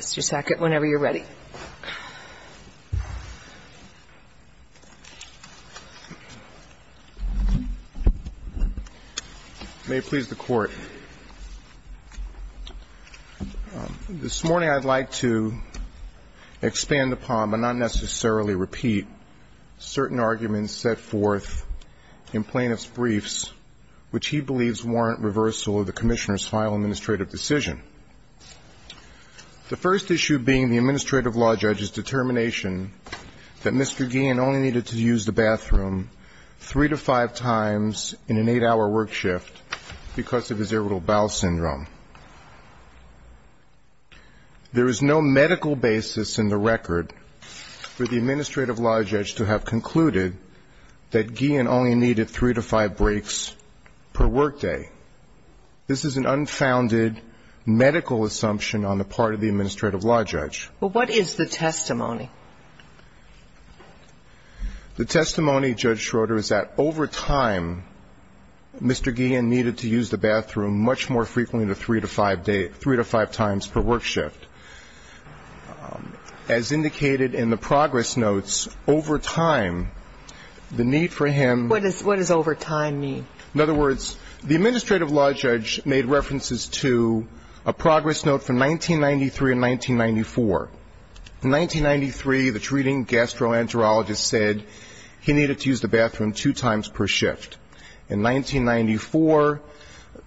Services. Mr. Sackett, whenever you're ready. May it please the Court. This morning I'd like to expand upon, but not necessarily repeat, certain arguments set forth in plaintiff's briefs which he believes warrant reversal of the Commissioner's final administrative decision. The first issue being the Administrative Law Judge's determination that Mr. Guillen only needed to use the bathroom three to five times in an eight-hour work shift because of his irritable bowel syndrome. There is no medical basis in the record for the Administrative Law Judge to have concluded that Guillen only needed three to five breaks per work day. This is an unfounded medical assumption on the part of the Administrative Law Judge. But what is the testimony? The testimony, Judge Schroeder, is that over time Mr. Guillen needed to use the bathroom much more frequently than three to five times per work shift. As indicated in the progress notes, over time, the need for him What does over time mean? In other words, the Administrative Law Judge made references to a progress note from 1993 and 1994. In 1993, the treating gastroenterologist said he needed to use the bathroom two times per shift. In 1994,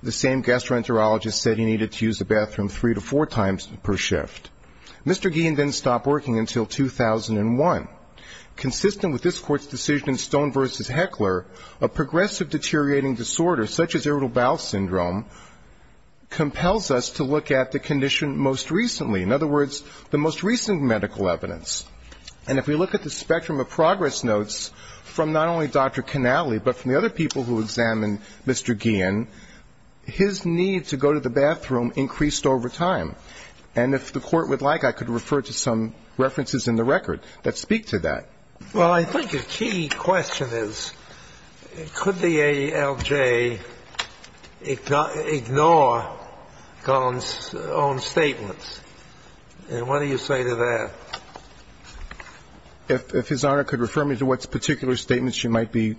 the same gastroenterologist said he needed to use the bathroom three to four times per shift. Mr. Guillen then stopped working until 2001. Consistent with this Court's decision in Stone v. Heckler, a progressive deteriorating disorder such as irritable bowel syndrome compels us to look at the condition most recently. In other words, the most recent medical evidence. And if we look at the spectrum of progress notes from not only Dr. Canale, but from the other people who examined Mr. Guillen, his need to go to the bathroom increased over time. And if the Court would like, I could refer to some references in the record that speak to that. Well, I think a key question is, could the ALJ ignore Gunn's own statements? And what do you say to that? If His Honor could refer me to what particular statements you might be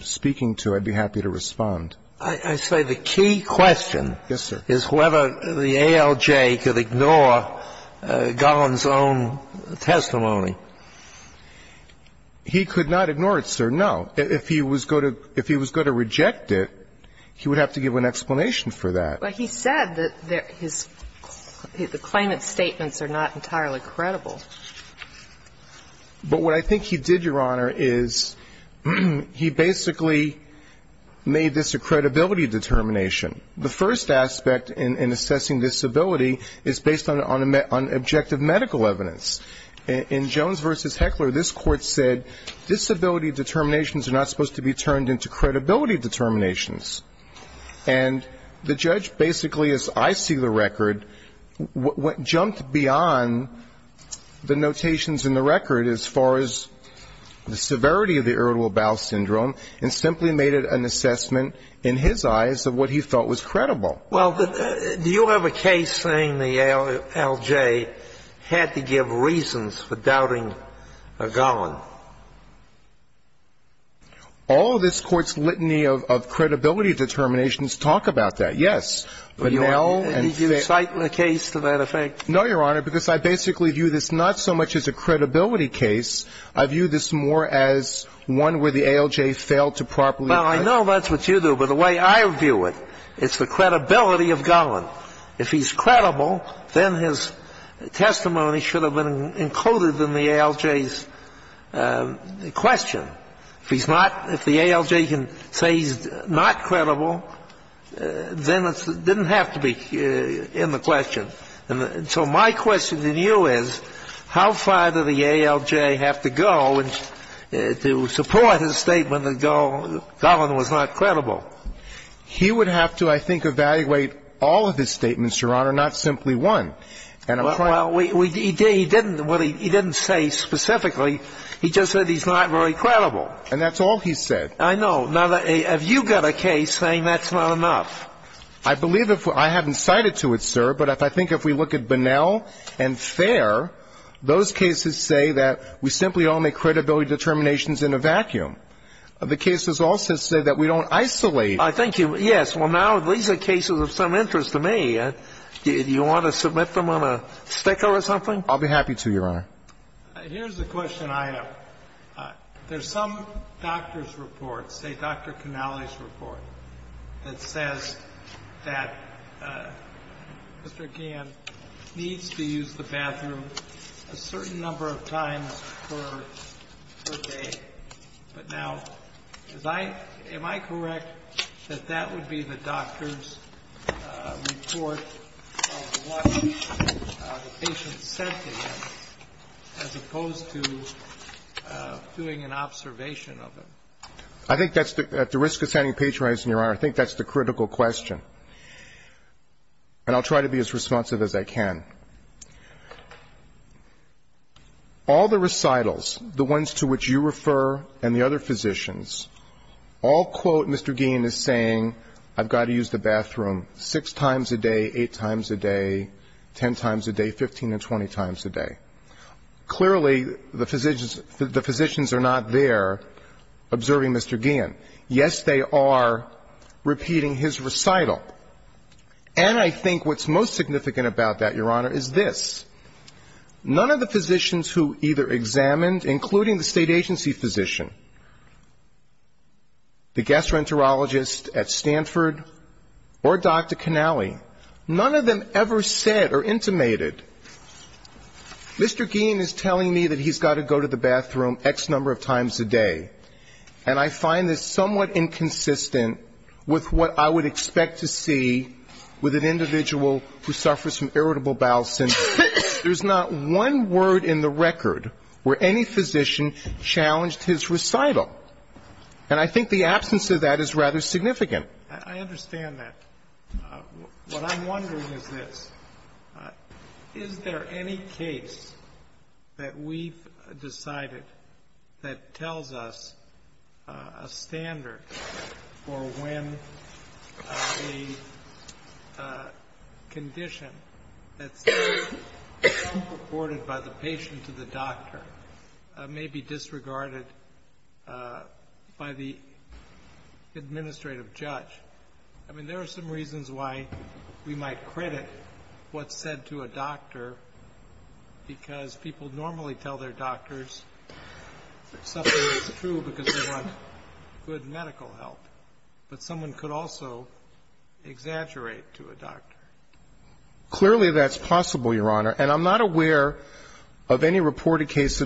speaking to, I'd be happy to respond. I say the key question is whether the ALJ could ignore Gunn's own testimony. He could not ignore it, sir, no. If he was going to reject it, he would have to give an explanation for that. But he said that the claimant's statements are not entirely credible. But what I think he did, Your Honor, is he basically made this a credibility determination. The first aspect in assessing disability is based on objective medical evidence. In Jones v. Heckler, this Court said disability determinations are not supposed to be turned into credibility determinations. And the judge basically, as I see the record, jumped beyond the notations in the record as far as the severity of the irritable bowel syndrome and simply made it an assessment in his eyes of what he felt was credible. Well, do you have a case saying the ALJ had to give reasons for doubting Gunn? All of this Court's litany of credibility determinations talk about that, yes. But now and then the case to that effect. No, Your Honor, because I basically view this not so much as a credibility case. I view this more as one where the ALJ failed to properly. Well, I know that's what you do. But the way I view it, it's the credibility of Gunn. If he's credible, then his testimony should have been included in the ALJ's question. If he's not, if the ALJ can say he's not credible, then it didn't have to be in the question. And so my question to you is, how far did the ALJ have to go to support his statement that Gunn was not credible? He would have to, I think, evaluate all of his statements, Your Honor, not simply one. And I'm trying to do that. Well, he didn't say specifically, he just said he's not very credible. And that's all he said. I know. Now, have you got a case saying that's not enough? I believe if we're – I haven't cited to it, sir, but I think if we look at Bonnell and Fair, those cases say that we simply all make credibility determinations in a vacuum. The cases also say that we don't isolate. I think you – yes. Well, now these are cases of some interest to me. I don't know if you want to submit them on a sticker or something. I'll be happy to, Your Honor. Here's the question I have. There's some doctor's report, say Dr. Canale's report, that says that Mr. Gann needs to use the bathroom a certain number of times per day. But now, is I – am I correct that that would be the doctor's report of what the patient said to him as opposed to doing an observation of him? I think that's the – at the risk of sounding patronizing, Your Honor, I think that's the critical question. And I'll try to be as responsive as I can. All the recitals, the ones to which you refer and the other physicians, all quote Mr. Gann as saying, I've got to use the bathroom six times a day, eight times a day, ten times a day, 15 to 20 times a day. Clearly, the physicians are not there observing Mr. Gann. Yes, they are repeating his recital. And I think what's most significant about that, Your Honor, is this. None of the physicians who either examined, including the state agency physician, the gastroenterologist at Stanford or Dr. Canale, none of them ever said or intimated, Mr. Gann is telling me that he's got to go to the bathroom X number of times a day. And I find this somewhat inconsistent with what I would expect to see with an individual who suffers from irritable bowel syndrome. There's not one word in the record where any physician challenged his recital. And I think the absence of that is rather significant. I understand that. What I'm wondering is this. Is there any case that we've decided that tells us a standard for when a condition that's reported by the patient to the doctor may be disregarded by the administrative judge? I mean, there are some reasons why we might credit what's said to a doctor, because people normally tell their doctors something is true because they want good medical help. But someone could also exaggerate to a doctor. Clearly, that's possible, Your Honor. And I'm not aware of any reported case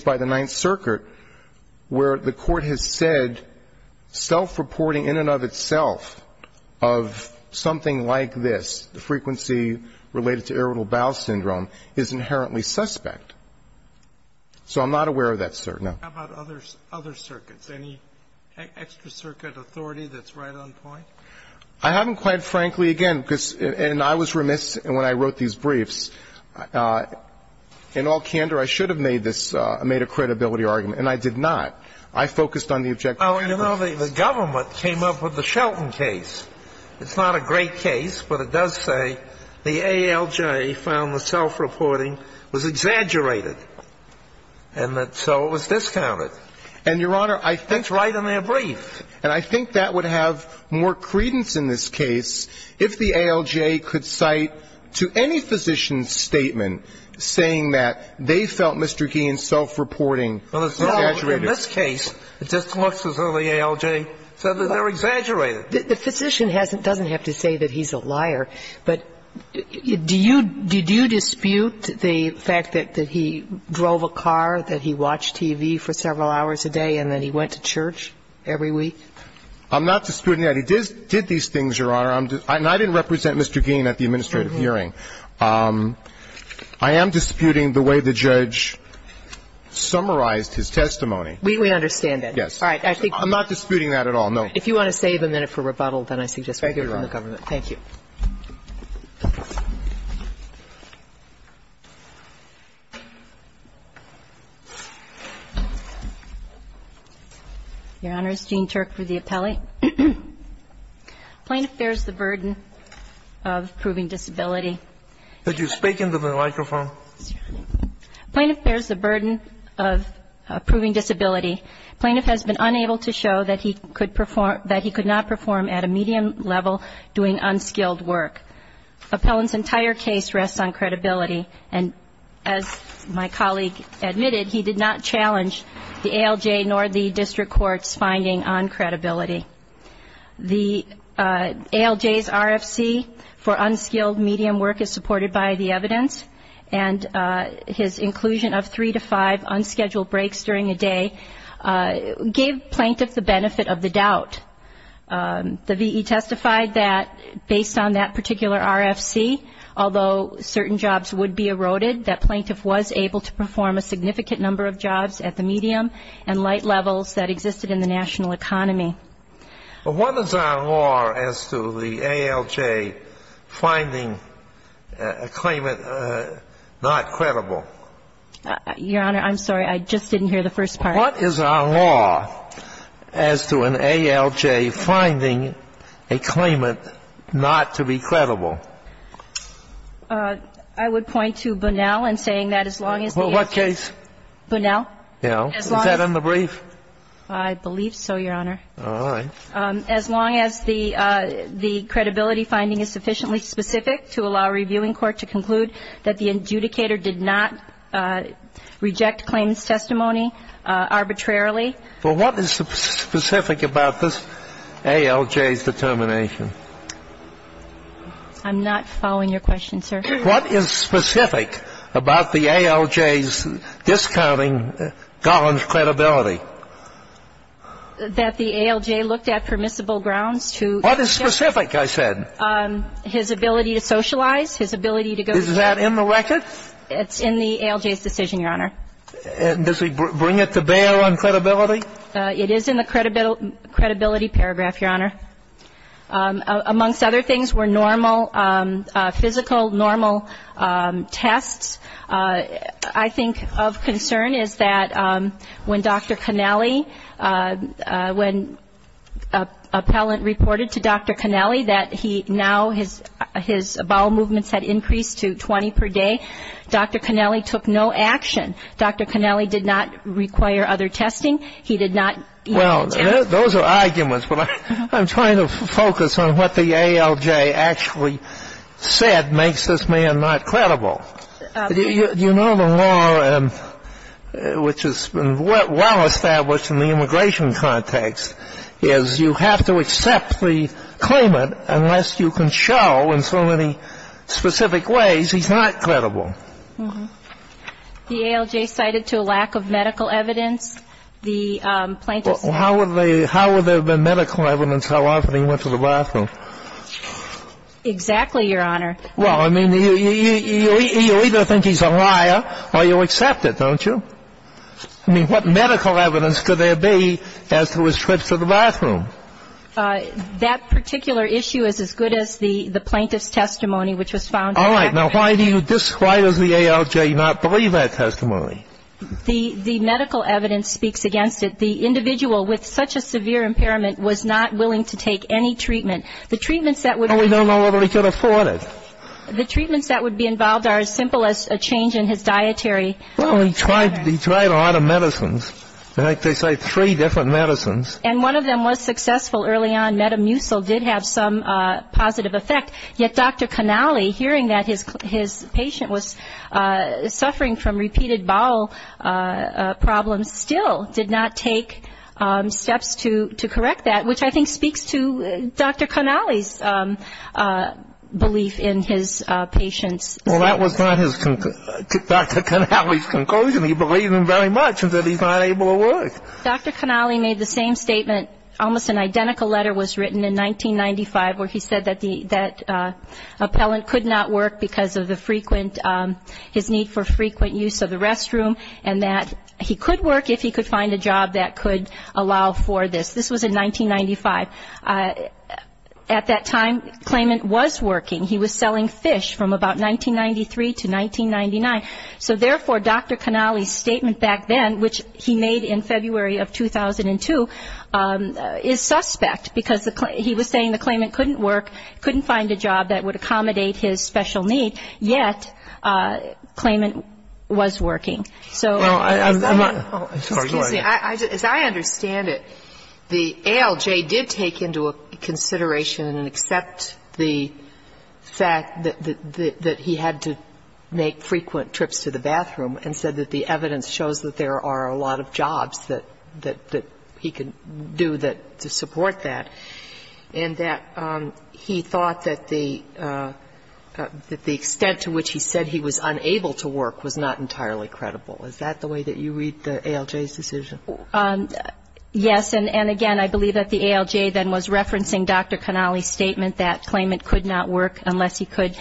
by the Ninth Circuit where the Court has said self-reporting in and of itself of something like this, the frequency related to irritable bowel syndrome, is inherently suspect. So I'm not aware of that, sir. No. How about other circuits? Any extra circuit authority that's right on point? I haven't quite, frankly, again, because and I was remiss when I wrote these briefs. In all candor, I should have made this, made a credibility argument. And I did not. I focused on the objective. Oh, you know, the government came up with the Shelton case. It's not a great case, but it does say the ALJ found the self-reporting was exaggerated. And so it was discounted. And, Your Honor, I think That's right in their brief. And I think that would have more credence in this case if the ALJ could cite to any physician's statement saying that they felt Mr. Gein's self-reporting was exaggerated. In this case, it just looks as though the ALJ said that they're exaggerated. The physician doesn't have to say that he's a liar, but do you dispute the fact that he drove a car, that he watched TV for several hours a day, and that he went to church every week? I'm not disputing that. He did these things, Your Honor. And I didn't represent Mr. Gein at the administrative hearing. I am disputing the way the judge summarized his testimony. We understand that. Yes. All right. I think I'm not disputing that at all, no. If you want to save a minute for rebuttal, then I suggest we go to the government. Thank you. Your Honor, it's Jean Turk for the appellate. Plaintiff bears the burden of proving disability. Could you speak into the microphone? Plaintiff bears the burden of proving disability. Plaintiff has been unable to show that he could not perform at a medium level doing unskilled work. Appellant's entire case rests on credibility. And as my colleague admitted, he did not challenge the ALJ nor the district court's finding on credibility. The ALJ's RFC for unskilled medium work is supported by the evidence. And his inclusion of three to five unscheduled breaks during a day gave plaintiff the benefit of the doubt. The V.E. testified that based on that particular RFC, although certain jobs would be eroded, that plaintiff was able to perform a significant number of jobs at the medium and light levels that existed in the national economy. Well, what is our law as to the ALJ finding a claimant not credible? Your Honor, I'm sorry. I just didn't hear the first part. What is our law as to an ALJ finding a claimant not to be credible? I would point to Bunnell and saying that as long as the ALJ... Well, what case? Bunnell? Yeah. Is that in the brief? I believe so, Your Honor. All right. As long as the credibility finding is sufficiently specific to allow a reviewing court to conclude that the adjudicator did not reject claimant's testimony arbitrarily. Well, what is specific about this ALJ's determination? I'm not following your question, sir. What is specific about the ALJ's discounting Gollin's credibility? That the ALJ looked at permissible grounds to... What is specific, I said? His ability to socialize, his ability to go... Is that in the record? It's in the ALJ's decision, Your Honor. And does it bring it to bear on credibility? It is in the credibility paragraph, Your Honor. Amongst other things were normal, physical, normal tests. I think of concern is that when Dr. Connelly, when appellant reported to Dr. Connelly that he now, his bowel movements had increased to 20 per day, Dr. Connelly took no action. Dr. Connelly did not require other testing. He did not... Well, those are arguments, but I'm trying to focus on what the ALJ actually said makes this man not credible. You know the law, which has been well established in the immigration context, is you have to accept the claimant unless you can show in so many specific ways he's not credible. The ALJ cited to lack of medical evidence, the plaintiff's... Well, how would there have been medical evidence how often he went to the bathroom? Exactly, Your Honor. Well, I mean, you either think he's a liar or you accept it, don't you? I mean, what medical evidence could there be as to his trips to the bathroom? That particular issue is as good as the plaintiff's testimony, which was found to be... All right. Now, why do you describe as the ALJ not believe that testimony? The medical evidence speaks against it. The individual with such a severe impairment was not willing to take any treatment. The treatments that would... Well, we don't know whether he could afford it. The treatments that would be involved are as simple as a change in his dietary... Well, he tried a lot of medicines. In fact, they say three different medicines. And one of them was successful early on. Metamucil did have some positive effect, yet Dr. Connelly, hearing that his patient was suffering from repeated bowel problems, still did not take steps to correct that, which I think speaks to Dr. Connelly's belief in his patient's... Well, that was not Dr. Connelly's conclusion. He believed him very much that he's not able to work. Dr. Connelly made the same statement. Almost an identical letter was written in 1995 where he said that the... that appellant could not work because of the frequent... his need for frequent use of the restroom and that he could work if he could find a job that could allow for this. This was in 1995. At that time, claimant was working. He was selling fish from about 1993 to 1999. So therefore, Dr. Connelly's statement back then, which he made in February of 2002, is suspect because he was saying the claimant couldn't work, couldn't find a job that would accommodate his special need, yet claimant was working. So... Well, I'm not... As I understand it, the ALJ did take into consideration and accept the fact that he had to make frequent trips to the bathroom and said that the evidence shows that there are a lot of jobs that he could do to support that and that he thought that the extent to which he said he was unable to work was not entirely credible. Is that the way that you read the ALJ's decision? Yes. And again, I believe that the ALJ then was referencing Dr. Connelly's statement that claimant could not work unless he could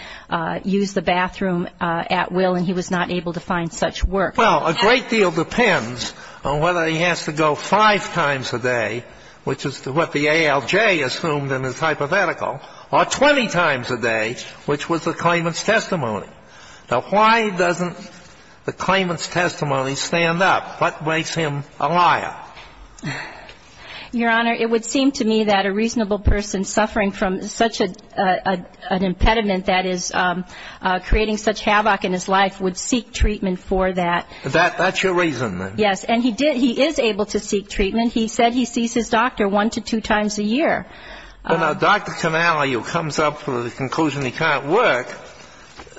use the bathroom at will and he was not able to find such work. Well, a great deal depends on whether he has to go five times a day, which is what the ALJ assumed in his hypothetical, or 20 times a day, which was the claimant's testimony. Now, why doesn't the claimant's testimony stand up? What makes him a liar? Your Honor, it would seem to me that a reasonable person suffering from such an impediment that is creating such havoc in his life would seek treatment for that. That's your reason, then? Yes. And he is able to seek treatment. He said he sees his doctor one to two times a year. Well, now, Dr. Connelly, who comes up with the conclusion he can't work,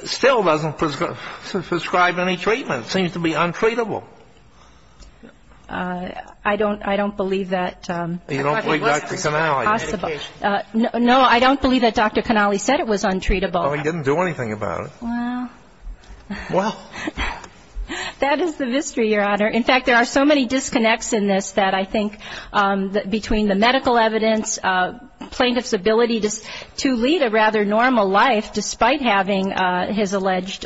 still doesn't prescribe any treatment. It seems to be untreatable. I don't believe that. You don't believe Dr. Connelly? No, I don't believe that Dr. Connelly said it was untreatable. Oh, he didn't do anything about it. Well. That is the mystery, Your Honor. In fact, there are so many disconnects in this that I think between the medical evidence, plaintiff's ability to lead a rather normal life despite having his alleged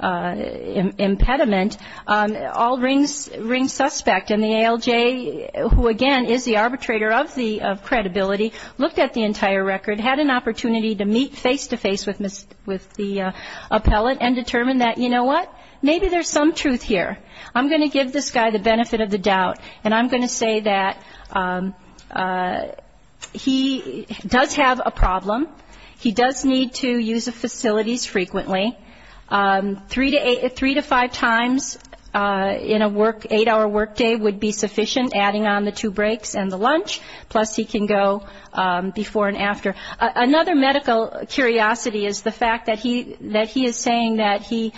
impediment, all rings suspect. And the ALJ, who again is the arbitrator of the credibility, looked at the entire record, had an opportunity to meet face-to-face with the appellate and determined that, you know what, maybe there's some truth here. I'm going to give this guy the benefit of the doubt. And I'm going to say that he does have a problem. He does need to use the facilities frequently. Three to five times in an eight-hour workday would be sufficient, adding on the two breaks and the lunch. Plus, he can go before and after. Another medical curiosity is the fact that he is saying that he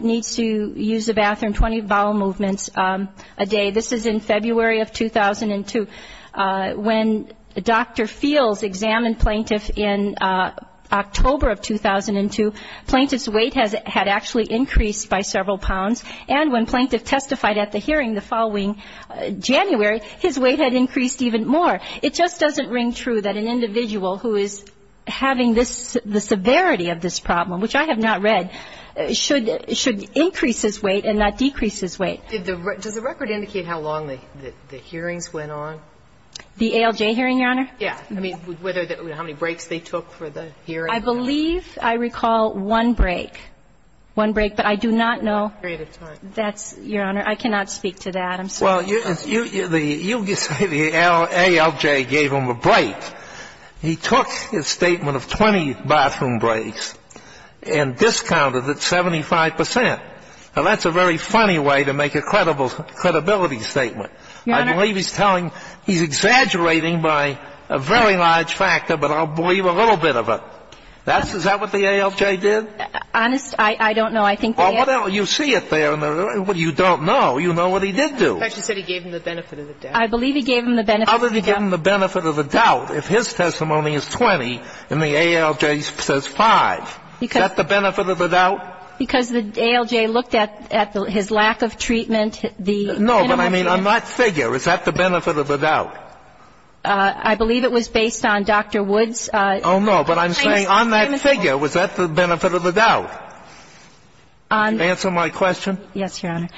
needs to use the bathroom 20 bowel movements a day. This is in February of 2002. When Dr. Fields examined plaintiff in October of 2002, plaintiff's weight had actually increased by several pounds. And when plaintiff testified at the hearing the following January, his weight had increased even more. It just doesn't ring true that an individual who is having the severity of this problem, which I have not read, should increase his weight and not decrease his weight. Does the record indicate how long the hearings went on? The ALJ hearing, Your Honor? Yeah. I mean, whether that would be how many breaks they took for the hearing? I believe I recall one break. One break, but I do not know. Period of time. That's, Your Honor, I cannot speak to that. I'm sorry. You say the ALJ gave him a break. He took his statement of 20 bathroom breaks and discounted it 75 percent. Now, that's a very funny way to make a credibility statement. I believe he's telling he's exaggerating by a very large factor, but I'll believe a little bit of it. Is that what the ALJ did? Honest, I don't know. I think the ALJ You see it there. You don't know. You know what he did do. I thought you said he gave him the benefit of the doubt. I believe he gave him the benefit of the doubt. How did he give him the benefit of the doubt if his testimony is 20 and the ALJ says 5? Is that the benefit of the doubt? Because the ALJ looked at his lack of treatment, the minimum of it. No, but I mean on that figure, is that the benefit of the doubt? I believe it was based on Dr. Wood's claims that the claimant was the benefit of the doubt. Answer my question. Yes, Your Honor.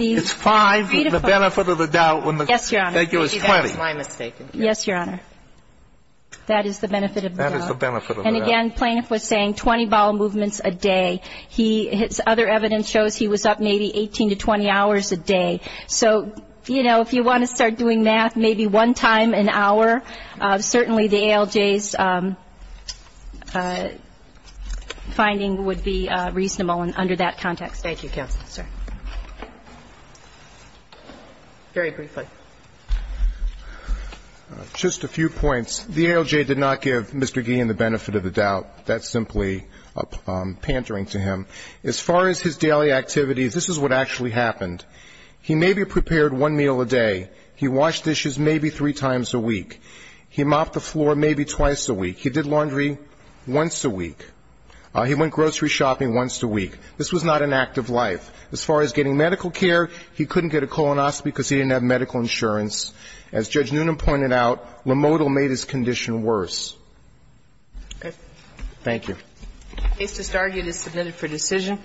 It's 5, the benefit of the doubt, when the figure is 20. Yes, Your Honor. That is the benefit of the doubt. And again, plaintiff was saying 20 bowel movements a day. He his other evidence shows he was up maybe 18 to 20 hours a day. So, you know, if you want to start doing math, maybe one time an hour, certainly the ALJ's finding would be reasonable under that context. Thank you, counsel. Very briefly. Just a few points. The ALJ did not give Mr. Gein the benefit of the doubt. That's simply a pantering to him. As far as his daily activities, this is what actually happened. He maybe prepared one meal a day. He washed dishes maybe three times a week. He mopped the floor maybe twice a week. He did laundry once a week. He went grocery shopping once a week. This was not an act of life. As far as getting medical care, he couldn't get a colonoscopy because he didn't have medical insurance. As Judge Noonan pointed out, limodal made his condition worse. Thank you. Case to start is submitted for decision.